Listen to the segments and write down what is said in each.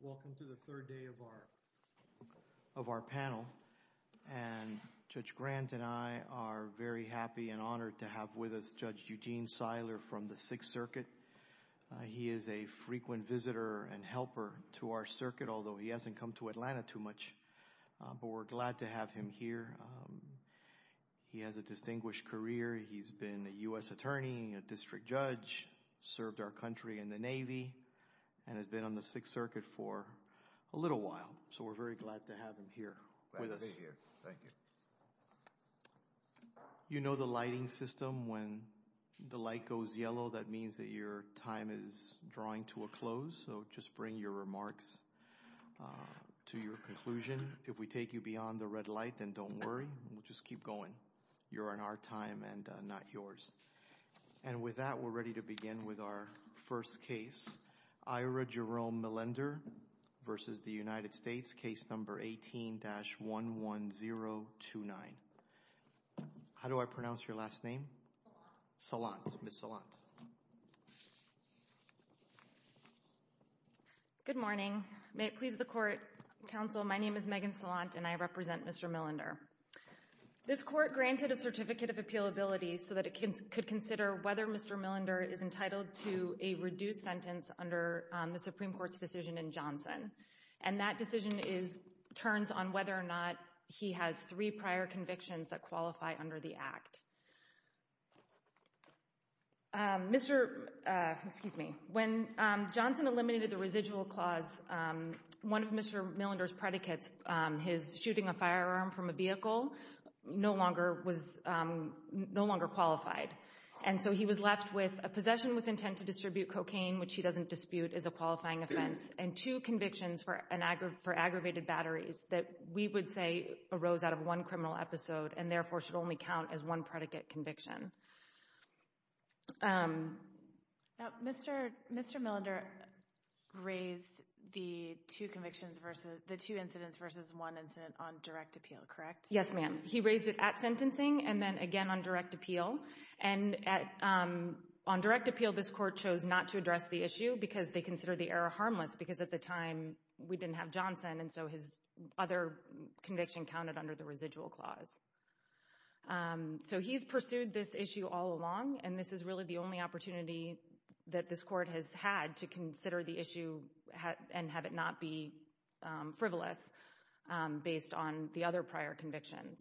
Welcome to the third day of our panel, and Judge Grant and I are very happy and honored to have with us Judge Eugene Seiler from the Sixth Circuit. He is a frequent visitor and helper to our circuit, although he hasn't come to Atlanta too much. But we're glad to have him here. He has a distinguished career. He's been a U.S. attorney, a district judge, served our country in the Navy, and has been on the Sixth Circuit for a little while. So we're very glad to have him here with us. You know the lighting system. When the light goes yellow, that means that your time is drawing to a close. So just bring your remarks to your conclusion. If we take you beyond the red light, then don't worry. We'll just keep going. You're on our time and not yours. And with that, we're ready to begin with our first case, Ira Jerome Millender v. United States, case number 18-11029. How do I pronounce your last name? Salant. Salant. Ms. Salant. Good morning. May it please the Court, Counsel, my name is Megan Salant, and I represent Mr. Millender. This Court granted a Certificate of Appealability so that it could consider whether Mr. Millender is entitled to a reduced sentence under the Supreme Court's decision in Johnson. And that decision turns on whether or not he has three prior convictions that qualify under the Act. When Johnson eliminated the residual clause, one of Mr. Millender's predicates, his shooting a firearm from a vehicle, no longer qualified. And so he was left with a possession with intent to distribute cocaine, which he doesn't dispute as a qualifying offense, and two convictions for aggravated batteries that we would say arose out of one criminal episode and therefore should only count as one predicate conviction. Now, Mr. Millender raised the two convictions, the two incidents versus one incident on direct appeal, correct? Yes, ma'am. He raised it at sentencing and then again on direct appeal. And on direct appeal, this Court chose not to address the issue because they consider the error harmless because at the time we didn't have Johnson and so his other conviction counted under the residual clause. So he's pursued this issue all along and this is really the only opportunity that this Court has had to consider the issue and have it not be frivolous based on the other prior convictions.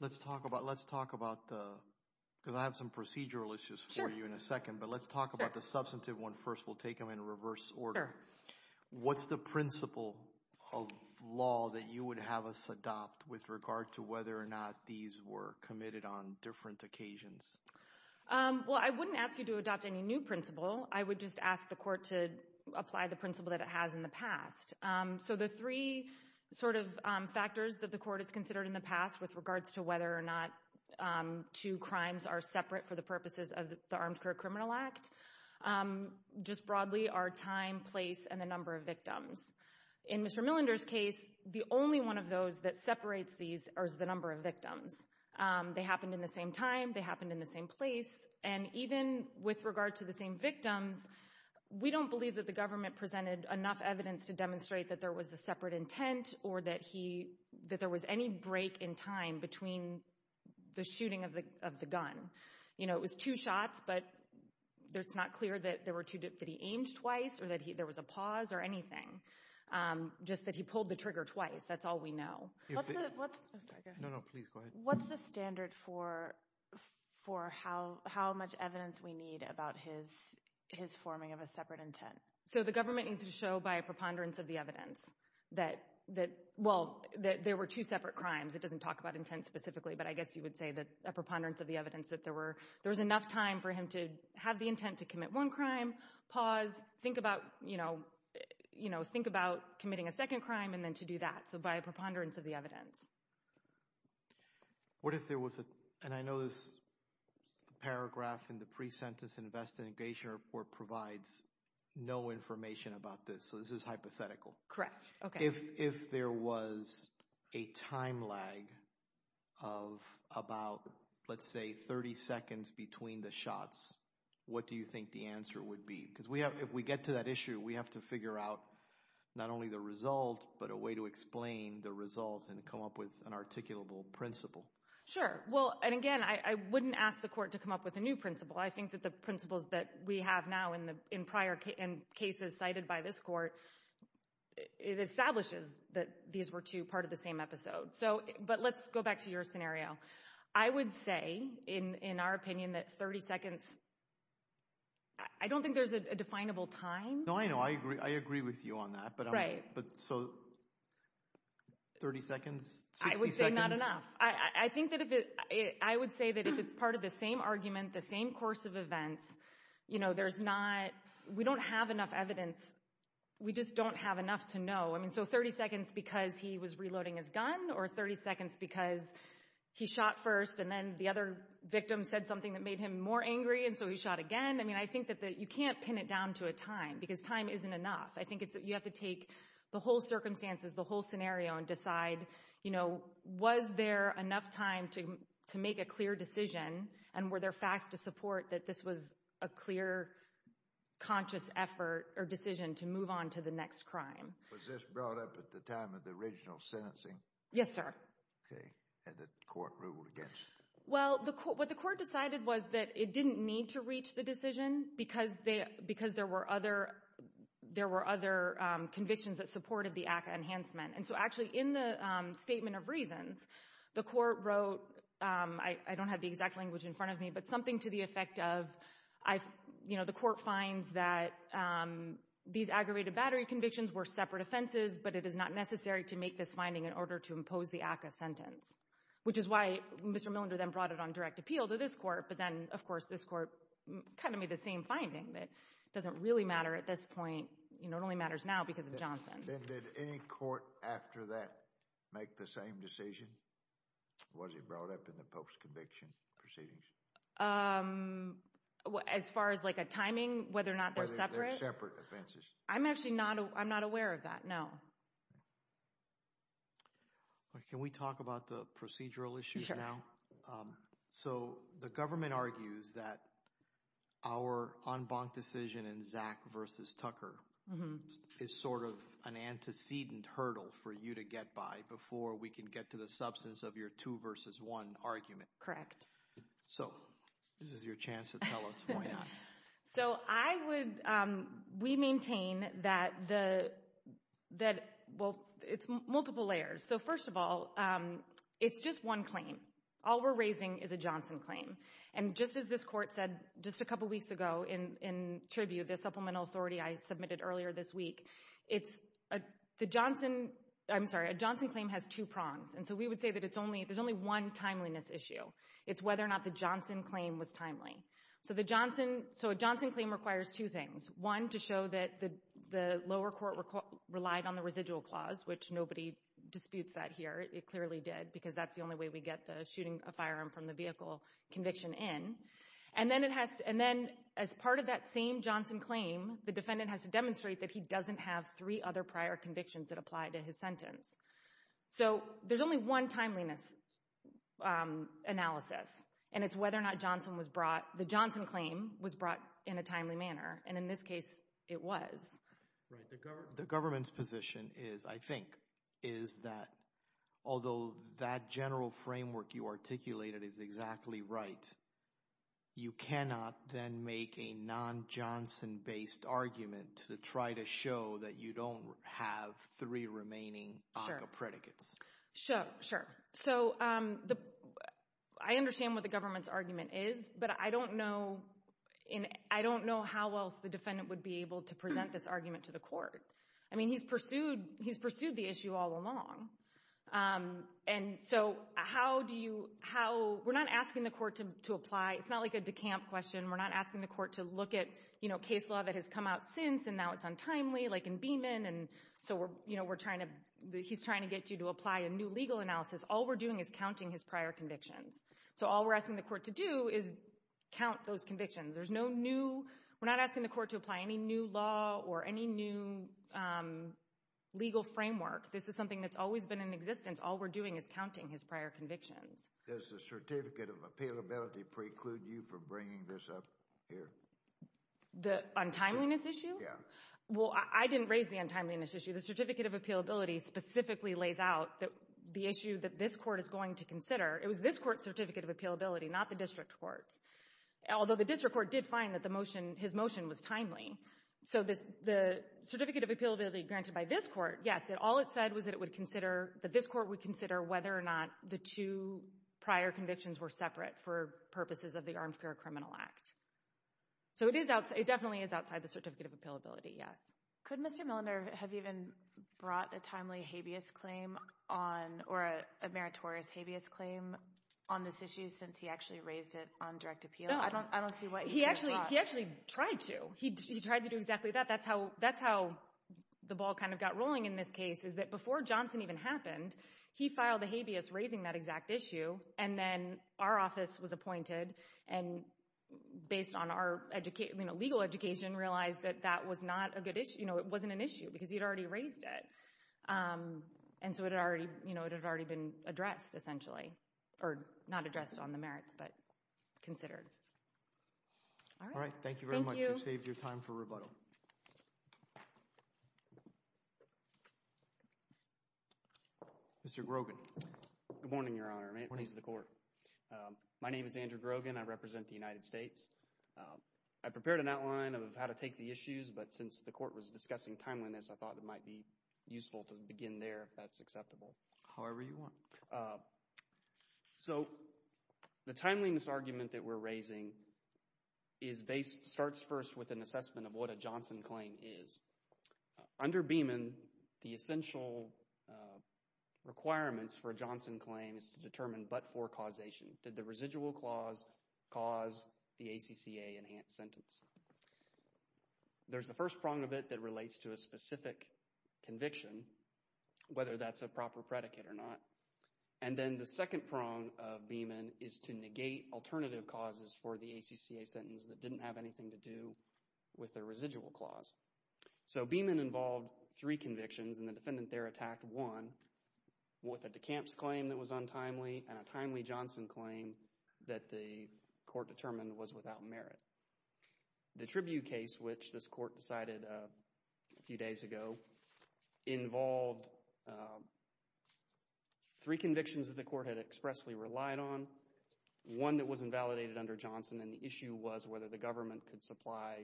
Let's talk about, let's talk about the, because I have some procedural issues for you in a second, but let's talk about the substantive one first. We'll take them in reverse order. What's the principle of law that you would have us adopt with regard to whether or not these were committed on different occasions? Well, I wouldn't ask you to adopt any new principle. I would just ask the Court to apply the principle that it has in the past. So the three sort of factors that the Court has considered in the past with regards to whether or not two crimes are separate for the purposes of the Armed Career Criminal Act just broadly are time, place, and the number of victims. In Mr. Millender's case, the only one of those that separates these is the number of victims. They happened in the same time, they happened in the same place, and even with regard to the same victims, we don't believe that the government presented enough evidence to demonstrate that there was a separate intent or that he, that there was any break in time between the shooting of the gun. You know, it was two shots, but it's not clear that he aimed twice or that there was a pause or anything, just that he pulled the trigger twice. That's all we know. What's the standard for how much evidence we need about his forming of a separate intent? So the government needs to show by a preponderance of the evidence that, well, that there were two separate crimes. It doesn't talk about intent specifically, but I guess you would say that a preponderance of the evidence that there were, there was enough time for him to have the intent to commit one crime, pause, think about, you know, think about committing a second crime and then to do that. So by a preponderance of the evidence. What if there was a, and I know this paragraph in the pre-sentence investigation report provides no information about this, so this is hypothetical. Correct. If there was a time lag of about, let's say, 30 seconds between the shots, what do you think the answer would be? Because if we get to that issue, we have to figure out not only the result, but a way to explain the result and come up with an articulable principle. Sure. Well, and again, I wouldn't ask the court to come up with a new principle. I think that the principles that we have now in prior cases cited by this court, it is establishes that these were two part of the same episode. So, but let's go back to your scenario. I would say, in our opinion, that 30 seconds, I don't think there's a definable time. No, I know. I agree with you on that, but so 30 seconds, 60 seconds? I would say not enough. I think that if it, I would say that if it's part of the same argument, the same course of events, you know, there's not, we don't have enough evidence. We just don't have enough to know. I mean, so 30 seconds because he was reloading his gun or 30 seconds because he shot first and then the other victim said something that made him more angry and so he shot again? I mean, I think that you can't pin it down to a time because time isn't enough. I think it's, you have to take the whole circumstances, the whole scenario and decide, you know, was there enough time to make a clear decision and were there facts to support that this was a clear, conscious effort or decision to move on to the next crime? Was this brought up at the time of the original sentencing? Yes, sir. Okay, and the court ruled against it? Well, what the court decided was that it didn't need to reach the decision because there were other convictions that supported the ACCA enhancement and so actually in the statement of reasons, the court wrote, I don't have the exact language in front of me, but something to the effect of, you know, the court finds that these aggravated battery convictions were separate offenses, but it is not necessary to make this finding in order to impose the ACCA sentence, which is why Mr. Millender then brought it on direct appeal to this court, but then, of course, this court kind of made the same finding that it doesn't really matter at this point. You know, it only matters now because of Johnson. Then did any court after that make the same decision? Was it brought up in the post-conviction proceedings? Um, as far as like a timing, whether or not they're separate? Whether they're separate offenses. I'm actually not, I'm not aware of that, no. Can we talk about the procedural issues now? Sure. So, the government argues that our en banc decision in Zak versus Tucker is sort of an absence of your two versus one argument. Correct. So, this is your chance to tell us why not. So, I would, um, we maintain that the, that, well, it's multiple layers. So, first of all, um, it's just one claim. All we're raising is a Johnson claim, and just as this court said just a couple weeks ago in, in tribute, the supplemental authority I submitted earlier this week, it's a, the Johnson, I'm sorry, a Johnson claim has two prongs. And so, we would say that it's only, there's only one timeliness issue. It's whether or not the Johnson claim was timely. So, the Johnson, so a Johnson claim requires two things. One, to show that the, the lower court relied on the residual clause, which nobody disputes that here, it clearly did, because that's the only way we get the shooting a firearm from the vehicle conviction in. And then it has to, and then as part of that same Johnson claim, the defendant has to demonstrate that he doesn't have three other prior convictions that apply to his sentence. So, there's only one timeliness, um, analysis. And it's whether or not Johnson was brought, the Johnson claim was brought in a timely manner. And in this case, it was. Right. The government's position is, I think, is that although that general framework you articulated is exactly right, you cannot then make a non-Johnson based argument to try to show that you don't have three remaining ACCA predicates. Sure. Sure. So, um, the, I understand what the government's argument is, but I don't know, I don't know how else the defendant would be able to present this argument to the court. I mean, he's pursued, he's pursued the issue all along. Um, and so, how do you, how, we're not asking the court to apply, it's not like a decamp question, we're not asking the court to look at, you know, case law that has come out since and now it's untimely, like in Beeman, and so we're, you know, we're trying to, he's trying to get you to apply a new legal analysis. All we're doing is counting his prior convictions. So, all we're asking the court to do is count those convictions. There's no new, we're not asking the court to apply any new law or any new, um, legal framework. This is something that's always been in existence. All we're doing is counting his prior convictions. Does the certificate of appealability preclude you from bringing this up here? The untimeliness issue? Yeah. Well, I didn't raise the untimeliness issue. The certificate of appealability specifically lays out the issue that this Court is going to consider. It was this Court's certificate of appealability, not the district court's, although the district court did find that the motion, his motion was timely. So the certificate of appealability granted by this Court, yes, all it said was that it would consider, that this Court would consider whether or not the two prior convictions were separate for purposes of the Armed Care Criminal Act. So it is, it definitely is outside the certificate of appealability, yes. Could Mr. Milliner have even brought a timely habeas claim on, or a meritorious habeas claim on this issue since he actually raised it on direct appeal? No, I don't see what he could have brought. He actually, he actually tried to. He tried to do exactly that. That's how, that's how the ball kind of got rolling in this case, is that before Johnson even happened, he filed a habeas raising that exact issue, and then our based on our, you know, legal education realized that that was not a good issue, you know, it wasn't an issue because he had already raised it. And so it had already, you know, it had already been addressed essentially, or not addressed on the merits, but considered. All right. Thank you very much. Thank you. You saved your time for rebuttal. Mr. Grogan. Good morning, Your Honor, and may it please the Court. My name is Andrew Grogan. I represent the United States. I prepared an outline of how to take the issues, but since the Court was discussing timeliness, I thought it might be useful to begin there if that's acceptable. However you want. So the timeliness argument that we're raising is based, starts first with an assessment of what a Johnson claim is. Under Beeman, the essential requirements for a Johnson claim is to determine but-for causation. Did the residual clause cause the ACCA enhanced sentence? There's the first prong of it that relates to a specific conviction, whether that's a proper predicate or not. And then the second prong of Beeman is to negate alternative causes for the ACCA sentence that didn't have anything to do with the residual clause. So Beeman involved three convictions, and the defendant there attacked one with a DeCamps claim that was untimely and a timely Johnson claim that the court determined was without merit. The Tribune case, which this court decided a few days ago, involved three convictions that the court had expressly relied on, one that was invalidated under Johnson, and the issue was whether the government could supply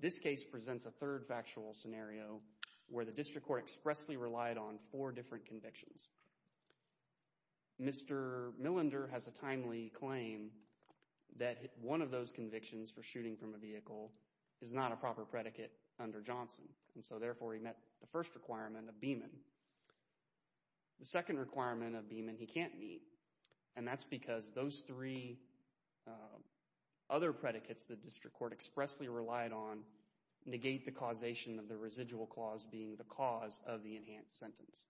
This case presents a third factual scenario where the district court expressly relied on four different convictions. Mr. Millender has a timely claim that one of those convictions for shooting from a vehicle is not a proper predicate under Johnson. And so, therefore, he met the first requirement of Beeman. The second requirement of Beeman he can't meet, and that's because those three other predicates the district court expressly relied on negate the causation of the residual clause being the cause of the enhanced sentence.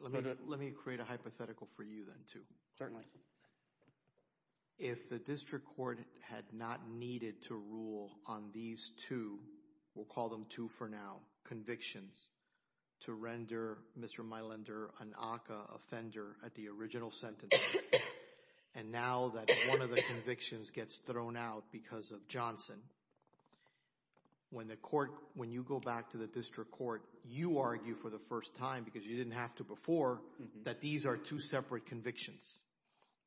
Let me create a hypothetical for you then, too. Certainly. If the district court had not needed to rule on these two, we'll call them two for now, convictions, to render Mr. Millender an ACCA offender at the level that one of the convictions gets thrown out because of Johnson. When you go back to the district court, you argue for the first time, because you didn't have to before, that these are two separate convictions.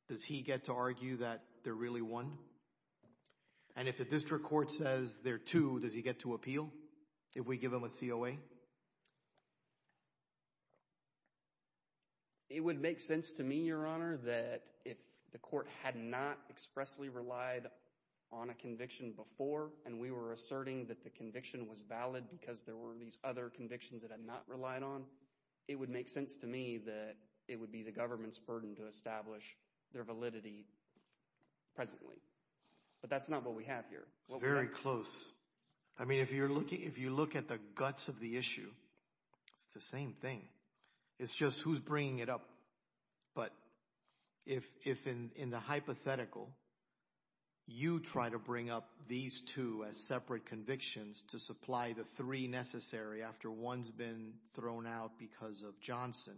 Does he get to argue that they're really one? And if the district court says they're two, does he get to appeal if we give him a COA? It would make sense to me, Your Honor, that if the court had not expressly relied on a conviction before and we were asserting that the conviction was valid because there were these other convictions it had not relied on, it would make sense to me that it would be the government's burden to establish their validity presently. But that's not what we have here. It's very close. I mean, if you look at the guts of the issue, it's the same thing. It's just who's bringing it up. But if in the hypothetical, you try to bring up these two as separate convictions to supply the three necessary after one's been thrown out because of Johnson,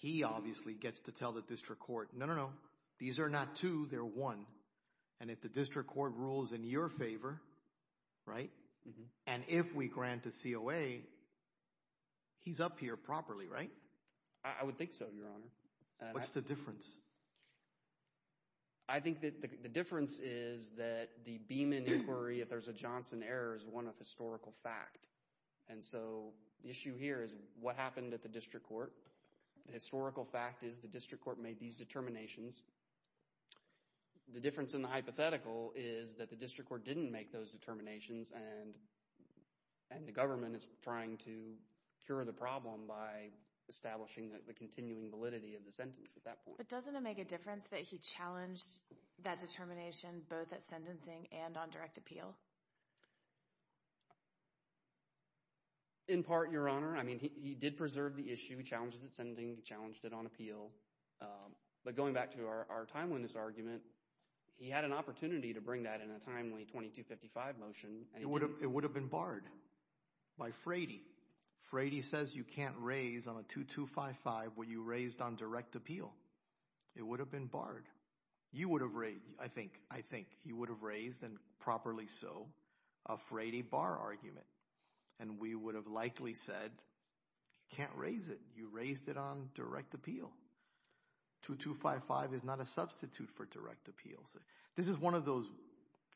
he obviously gets to tell the district court, no, no, no, these are not two, they're one. And if the district court rules in your favor, right, and if we grant a COA, he's up here properly, right? I would think so, Your Honor. What's the difference? I think that the difference is that the Beeman inquiry, if there's a Johnson error, is one of historical fact. And so the issue here is what happened at the district court. The historical fact is the district court made these determinations. The difference in the hypothetical is that the district court didn't make those determinations and the government is trying to cure the problem by establishing the continuing validity of the sentence at that point. But doesn't it make a difference that he challenged that determination both at sentencing and on direct appeal? In part, Your Honor. I mean, he did preserve the issue. He challenged it at sentencing. He challenged it on appeal. But going back to our timeliness argument, he had an opportunity to bring that in a timely 2255 motion. It would have been barred by Frady. Frady says you can't raise on a 2255 when you raised on direct appeal. It would have been barred. You would have raised, I think, you would have raised, and properly so, a Frady bar argument. And we would have likely said, you can't raise it. You raised it on direct appeal. 2255 is not a substitute for direct appeal. This is one of those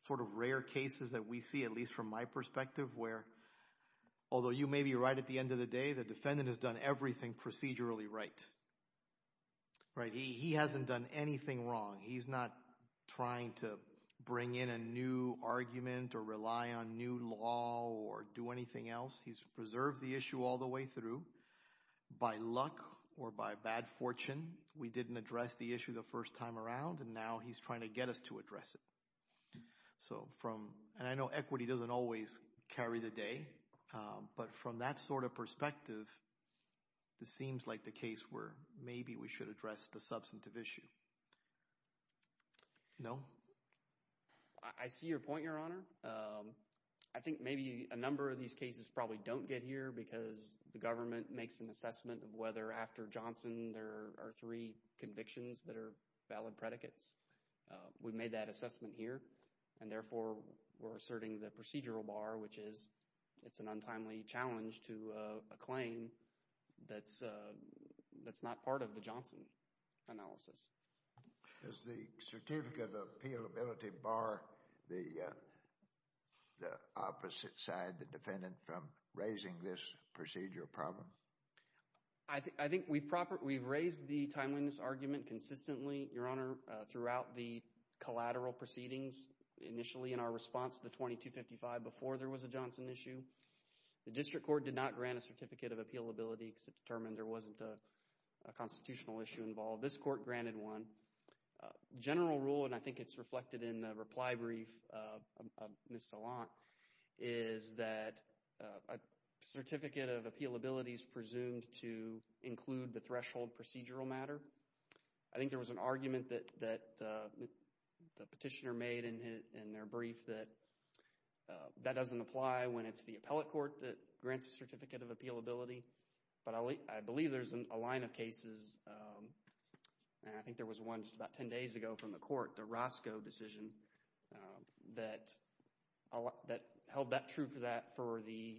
sort of rare cases that we see, at least from my perspective, where although you may be right at the end of the day, the defendant has done everything procedurally right. He hasn't done anything wrong. He's not trying to bring in a new argument or rely on new law or do anything else. He's preserved the issue all the way through. By luck or by bad fortune, we didn't address the issue the first time around, and now he's trying to get us to address it. And I know equity doesn't always carry the day, but from that sort of perspective, this seems like the case where maybe we should address the substantive issue. No? I see your point, Your Honor. I think maybe a number of these cases probably don't get here because the government makes an assessment of whether after Johnson there are three convictions that are valid predicates. We've made that assessment here, and therefore we're asserting the procedural bar, which is it's an untimely challenge to a claim that's not part of the Johnson analysis. Does the certificate of appealability bar the opposite side, the defendant, from raising this procedural problem? I think we've raised the timeliness argument consistently, Your Honor, throughout the collateral proceedings, initially in our response to the 2255 before there was a Johnson issue. The district court did not grant a certificate of appealability because it determined there wasn't a constitutional issue involved. This court granted one. General rule, and I think it's reflected in the reply brief of Ms. Salant, is that a certificate of appealability is presumed to include the threshold procedural matter. I think there was an argument that the petitioner made in their brief that that doesn't apply when it's the appellate court that grants a certificate of appealability. But I believe there's a line of cases, and I think there was one just about 10 days ago from the court, the Roscoe decision, that held that true for the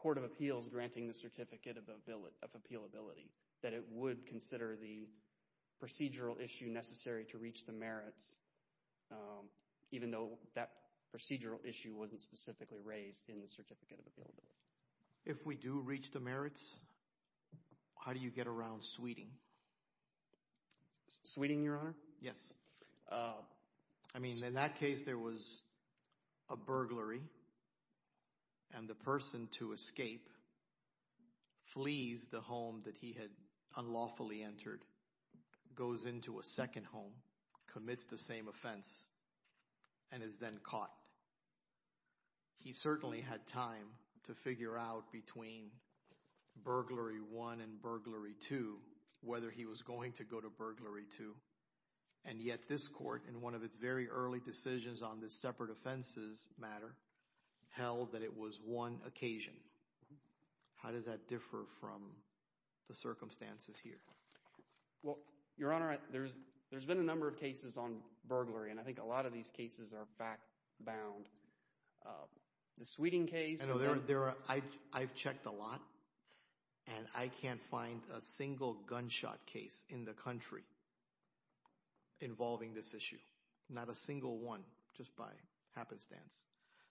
court of appeals granting the certificate of appealability, that it would consider the procedural issue necessary to reach the merits, even though that procedural issue wasn't specifically raised in the certificate of appealability. If we do reach the merits, how do you get around sweeting? Sweeting, Your Honor? Yes. I mean, in that case, there was a burglary, and the person to escape flees the home that he had unlawfully entered, goes into a second home, commits the same offense, and is then caught. He certainly had time to figure out between burglary one and burglary two, whether he was going to go to burglary two, and yet this court, in one of its very early decisions on the separate offenses matter, held that it was one occasion. How does that differ from the circumstances here? Well, Your Honor, there's been a number of cases on burglary, and I think a lot of these cases are fact-bound. The sweeting case? I've checked a lot, and I can't find a single gunshot case in the country involving this issue, not a single one, just by happenstance.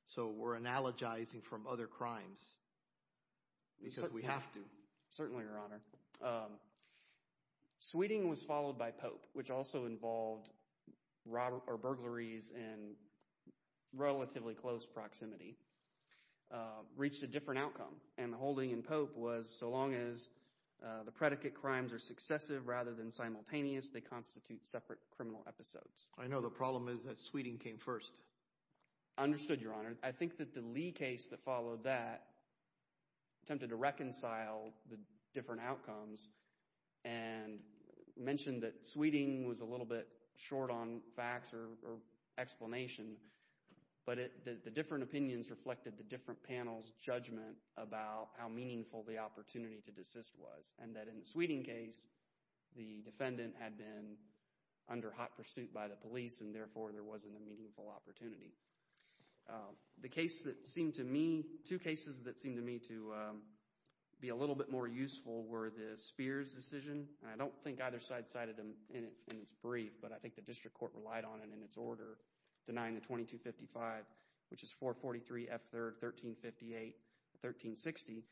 So we're analogizing from other crimes because we have to. Certainly, Your Honor. Sweeting was followed by Pope, which also involved burglaries in relatively close proximity, reached a different outcome, and the holding in Pope was so long as the predicate crimes are successive rather than simultaneous, they constitute separate criminal episodes. I know the problem is that sweeting came first. Understood, Your Honor. I think that the Lee case that followed that attempted to reconcile the different outcomes and mentioned that sweeting was a little bit short on facts or explanation, but the different opinions reflected the different panels' judgment about how meaningful the opportunity to desist was, and that in the sweeting case, the defendant had been under hot pursuit by the police, and therefore there wasn't a meaningful opportunity. The case that seemed to me, two cases that seemed to me to be a little bit more useful were the Spears decision, and I don't think either side cited them in its brief, but I think the district court relied on it in its order, denying the 2255, which is 443 F. 3rd, 1358, 1360,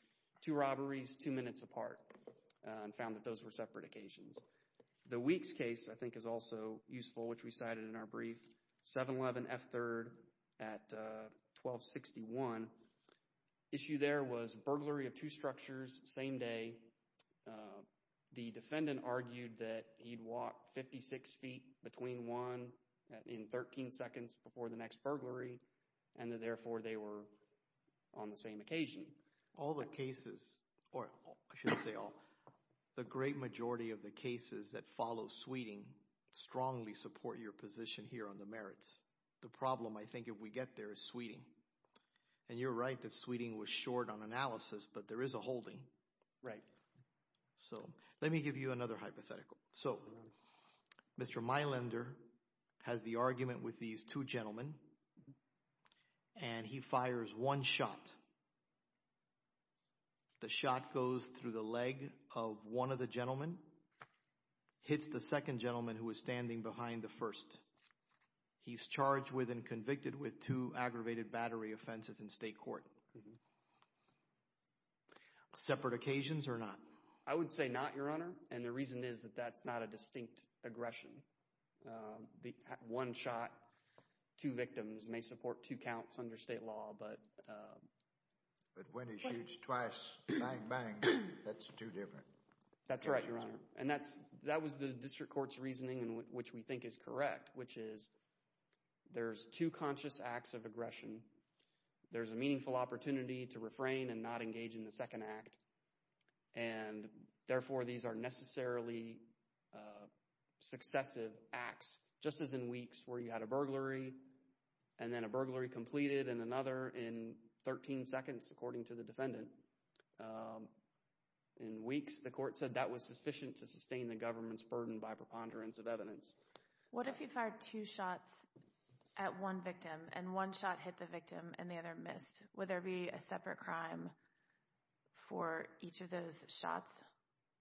two robberies, two minutes apart, and found that those were separate occasions. The Weeks case, I think, is also useful, which we cited in our brief, 711 F. 3rd at 1261. Issue there was burglary of two structures, same day. The defendant argued that he'd walked 56 feet between one in 13 seconds before the next burglary, and that therefore they were on the same occasion. All the cases, or I should say all, the great majority of the cases that follow Sweeting strongly support your position here on the merits. The problem, I think, if we get there is Sweeting, and you're right that Sweeting was short on analysis, but there is a holding. Right. So let me give you another hypothetical. So Mr. Meilander has the argument with these two gentlemen, and he fires one shot. The shot goes through the leg of one of the gentlemen, hits the second gentleman who was standing behind the first. He's charged with and convicted with two aggravated battery offenses in state court. Separate occasions or not? I would say not, Your Honor, and the reason is that that's not a distinct aggression. One shot, two victims may support two counts under state law, but when he shoots twice, bang, bang, that's two different. That's right, Your Honor, and that was the district court's reasoning in which we think is correct, which is there's two conscious acts of aggression. There's a meaningful opportunity to refrain and not engage in the second act, and therefore these are necessarily successive acts, just as in weeks where you had a burglary and then a burglary completed in another in 13 seconds, according to the defendant. In weeks, the court said that was sufficient to sustain the government's burden by preponderance of evidence. What if he fired two shots at one victim and one shot hit the victim and the other missed? Would there be a separate crime for each of those shots,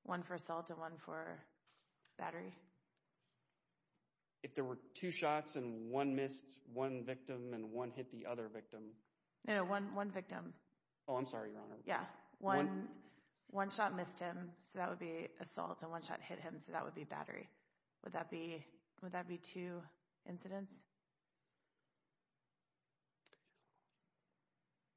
one for assault and one for battery? If there were two shots and one missed one victim and one hit the other victim? No, one victim. Oh, I'm sorry, Your Honor. Yeah, one shot missed him, so that would be assault, and one shot hit him, so that would be battery. Would that be two incidents?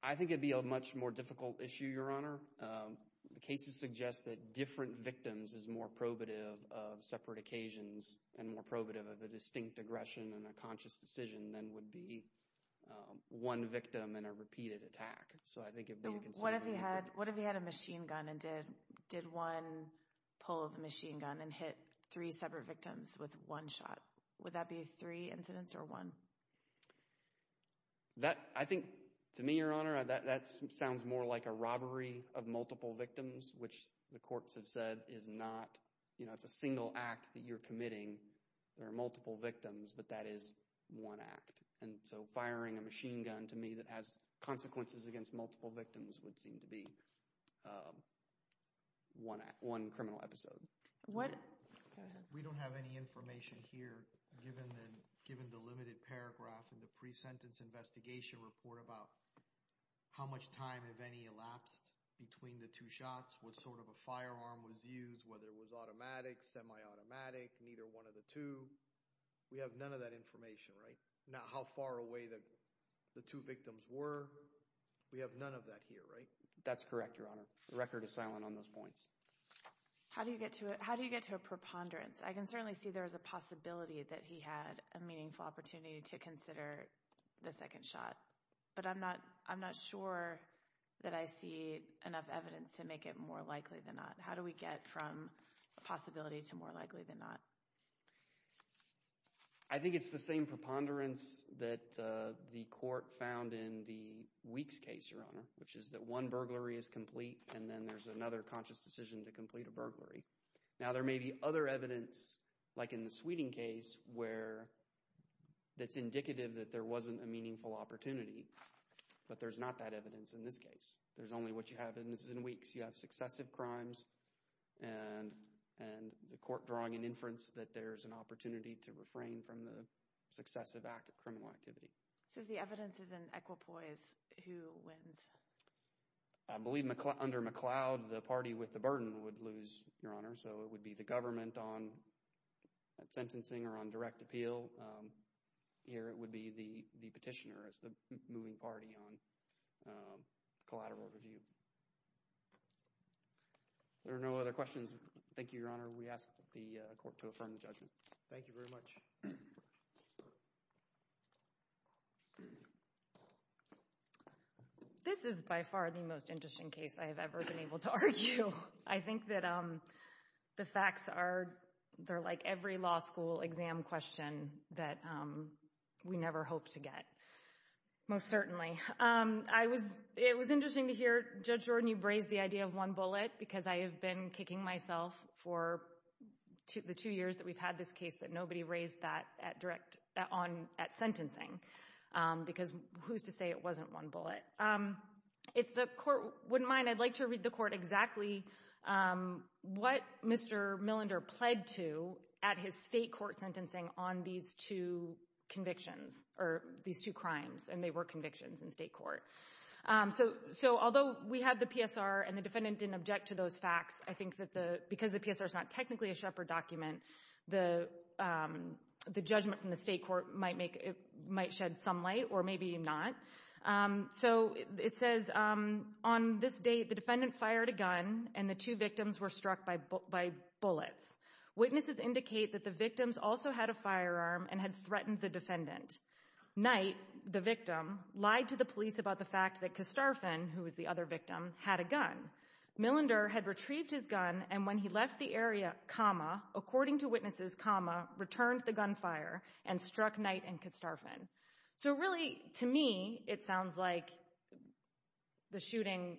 I think it would be a much more difficult issue, Your Honor. The cases suggest that different victims is more probative of separate occasions and more probative of a distinct aggression and a conscious decision than would be one victim in a repeated attack, so I think it would be a concern. What if he had a machine gun and did one pull the machine gun and hit three separate victims with one shot? Would that be three incidents or one? I think, to me, Your Honor, that sounds more like a robbery of multiple victims, which the courts have said is not, you know, it's a single act that you're committing. There are multiple victims, but that is one act, and so firing a machine gun, to me, that has consequences against multiple victims would seem to be one criminal episode. Go ahead. We don't have any information here, given the limited paragraph in the pre-sentence investigation report about how much time, if any, elapsed between the two shots, what sort of a firearm was used, whether it was automatic, semi-automatic, neither one of the two. We have none of that information, right? Not how far away the two victims were. We have none of that here, right? That's correct, Your Honor. The record is silent on those points. How do you get to a preponderance? I can certainly see there is a possibility that he had a meaningful opportunity to consider the second shot, but I'm not sure that I see enough evidence to make it more likely than not. How do we get from a possibility to more likely than not? I think it's the same preponderance that the court found in the Weeks case, Your Honor, which is that one burglary is complete, and then there's another conscious decision to complete a burglary. Now, there may be other evidence, like in the Sweeting case, that's indicative that there wasn't a meaningful opportunity, but there's not that evidence in this case. There's only what you have in Weeks. You have successive crimes and the court drawing an inference that there's an opportunity to refrain from the successive criminal activity. So if the evidence is in equipoise, who wins? I believe under McLeod, the party with the burden would lose, Your Honor, so it would be the government on sentencing or on direct appeal. Here, it would be the petitioner as the moving party on collateral review. If there are no other questions, thank you, Your Honor. We ask the court to affirm the judgment. Thank you very much. This is by far the most interesting case I have ever been able to argue. I think that the facts are, they're like every law school exam question that we never hope to get, most certainly. It was interesting to hear Judge Jordan, you raised the idea of one bullet because I have been kicking myself for the two years that we've had this case that nobody raised that at sentencing because who's to say it wasn't one bullet? If the court wouldn't mind, I'd like to read the court exactly what Mr. Millender pled to at his state court sentencing on these two convictions or these two crimes, and they were convictions in state court. Although we had the PSR and the defendant didn't object to those facts, I think that because the PSR is not technically a Shepard document, the judgment from the state court might shed some light or maybe not. It says, on this date, the defendant fired a gun and the two victims were struck by bullets. Witnesses indicate that the victims also had a firearm and had threatened the defendant. Knight, the victim, lied to the police about the fact that Kastarfan, who was the other victim, had a gun. Millender had retrieved his gun and when he left the area, according to witnesses, returned the gunfire and struck Knight and Kastarfan. So really, to me, it sounds like the shooting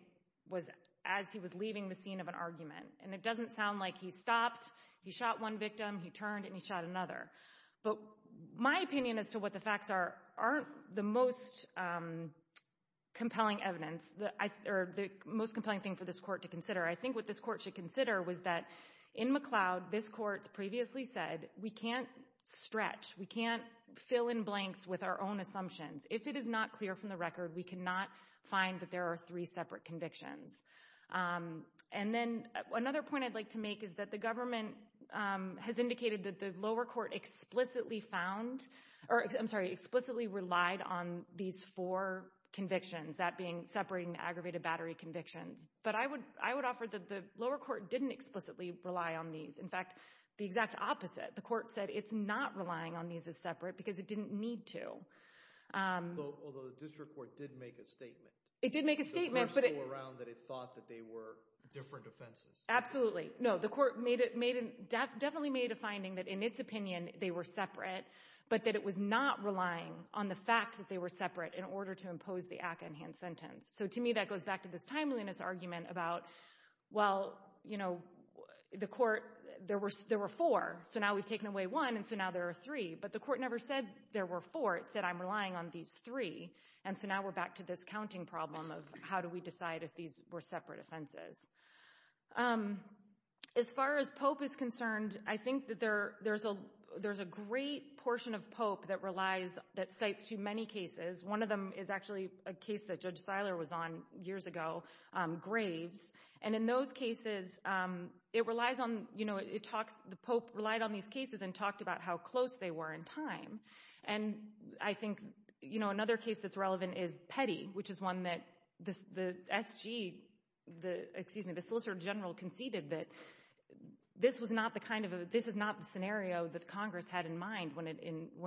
was as he was leaving the scene of an argument, and it doesn't sound like he stopped, he shot one victim, he turned, and he shot another. But my opinion as to what the facts are aren't the most compelling evidence, or the most compelling thing for this court to consider. I think what this court should consider was that in McLeod, this court previously said, we can't stretch, we can't fill in blanks with our own assumptions. If it is not clear from the record, we cannot find that there are three separate convictions. And then another point I'd like to make is that the government has indicated that the lower court explicitly found, or I'm sorry, explicitly relied on these four convictions, that being separating the aggravated battery convictions. But I would offer that the lower court didn't explicitly rely on these. In fact, the exact opposite, the court said, it's not relying on these as separate because it didn't need to. Although the district court did make a statement. It did make a statement. It didn't go around that it thought that they were different offenses. Absolutely. No, the court definitely made a finding that in its opinion, they were separate, but that it was not relying on the fact that they were separate in order to impose the ACCA enhanced sentence. So to me, that goes back to this timeliness argument about, well, you know, the court, there were four. So now we've taken away one. And so now there are three. But the court never said there were four. It said, I'm relying on these three. And so now we're back to this counting problem of how do we decide if these were separate offenses. As far as Pope is concerned, I think that there's a great portion of Pope that relies, that cites too many cases. One of them is actually a case that Judge Seiler was on years ago, Graves. And in those cases, it relies on, you know, it talks, the Pope relied on these cases and talked about how close they were in time. And I think, you know, another case that's relevant is Petty, which is one that the SG, excuse me, the Solicitor General conceded that this was not the kind of, this is not the scenario that Congress had in mind when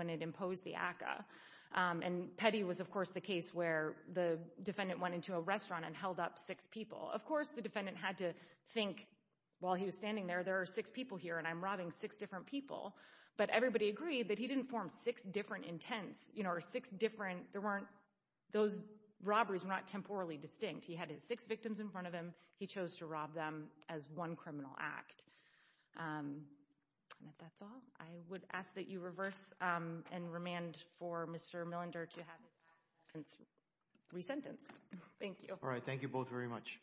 it imposed the ACCA. And Petty was, of course, the case where the defendant went into a restaurant and held up six people. Of course, the defendant had to think, while he was standing there, there are six people here and I'm robbing six different people. But everybody agreed that he didn't form six different intents, you know, or six different, there weren't, those robberies were not temporally distinct. He had his six victims in front of him. He chose to rob them as one criminal act. And if that's all, I would ask that you reverse and remand for Mr. Millender to have his actions resentenced. Thank you. All right, thank you both very much. Thank you.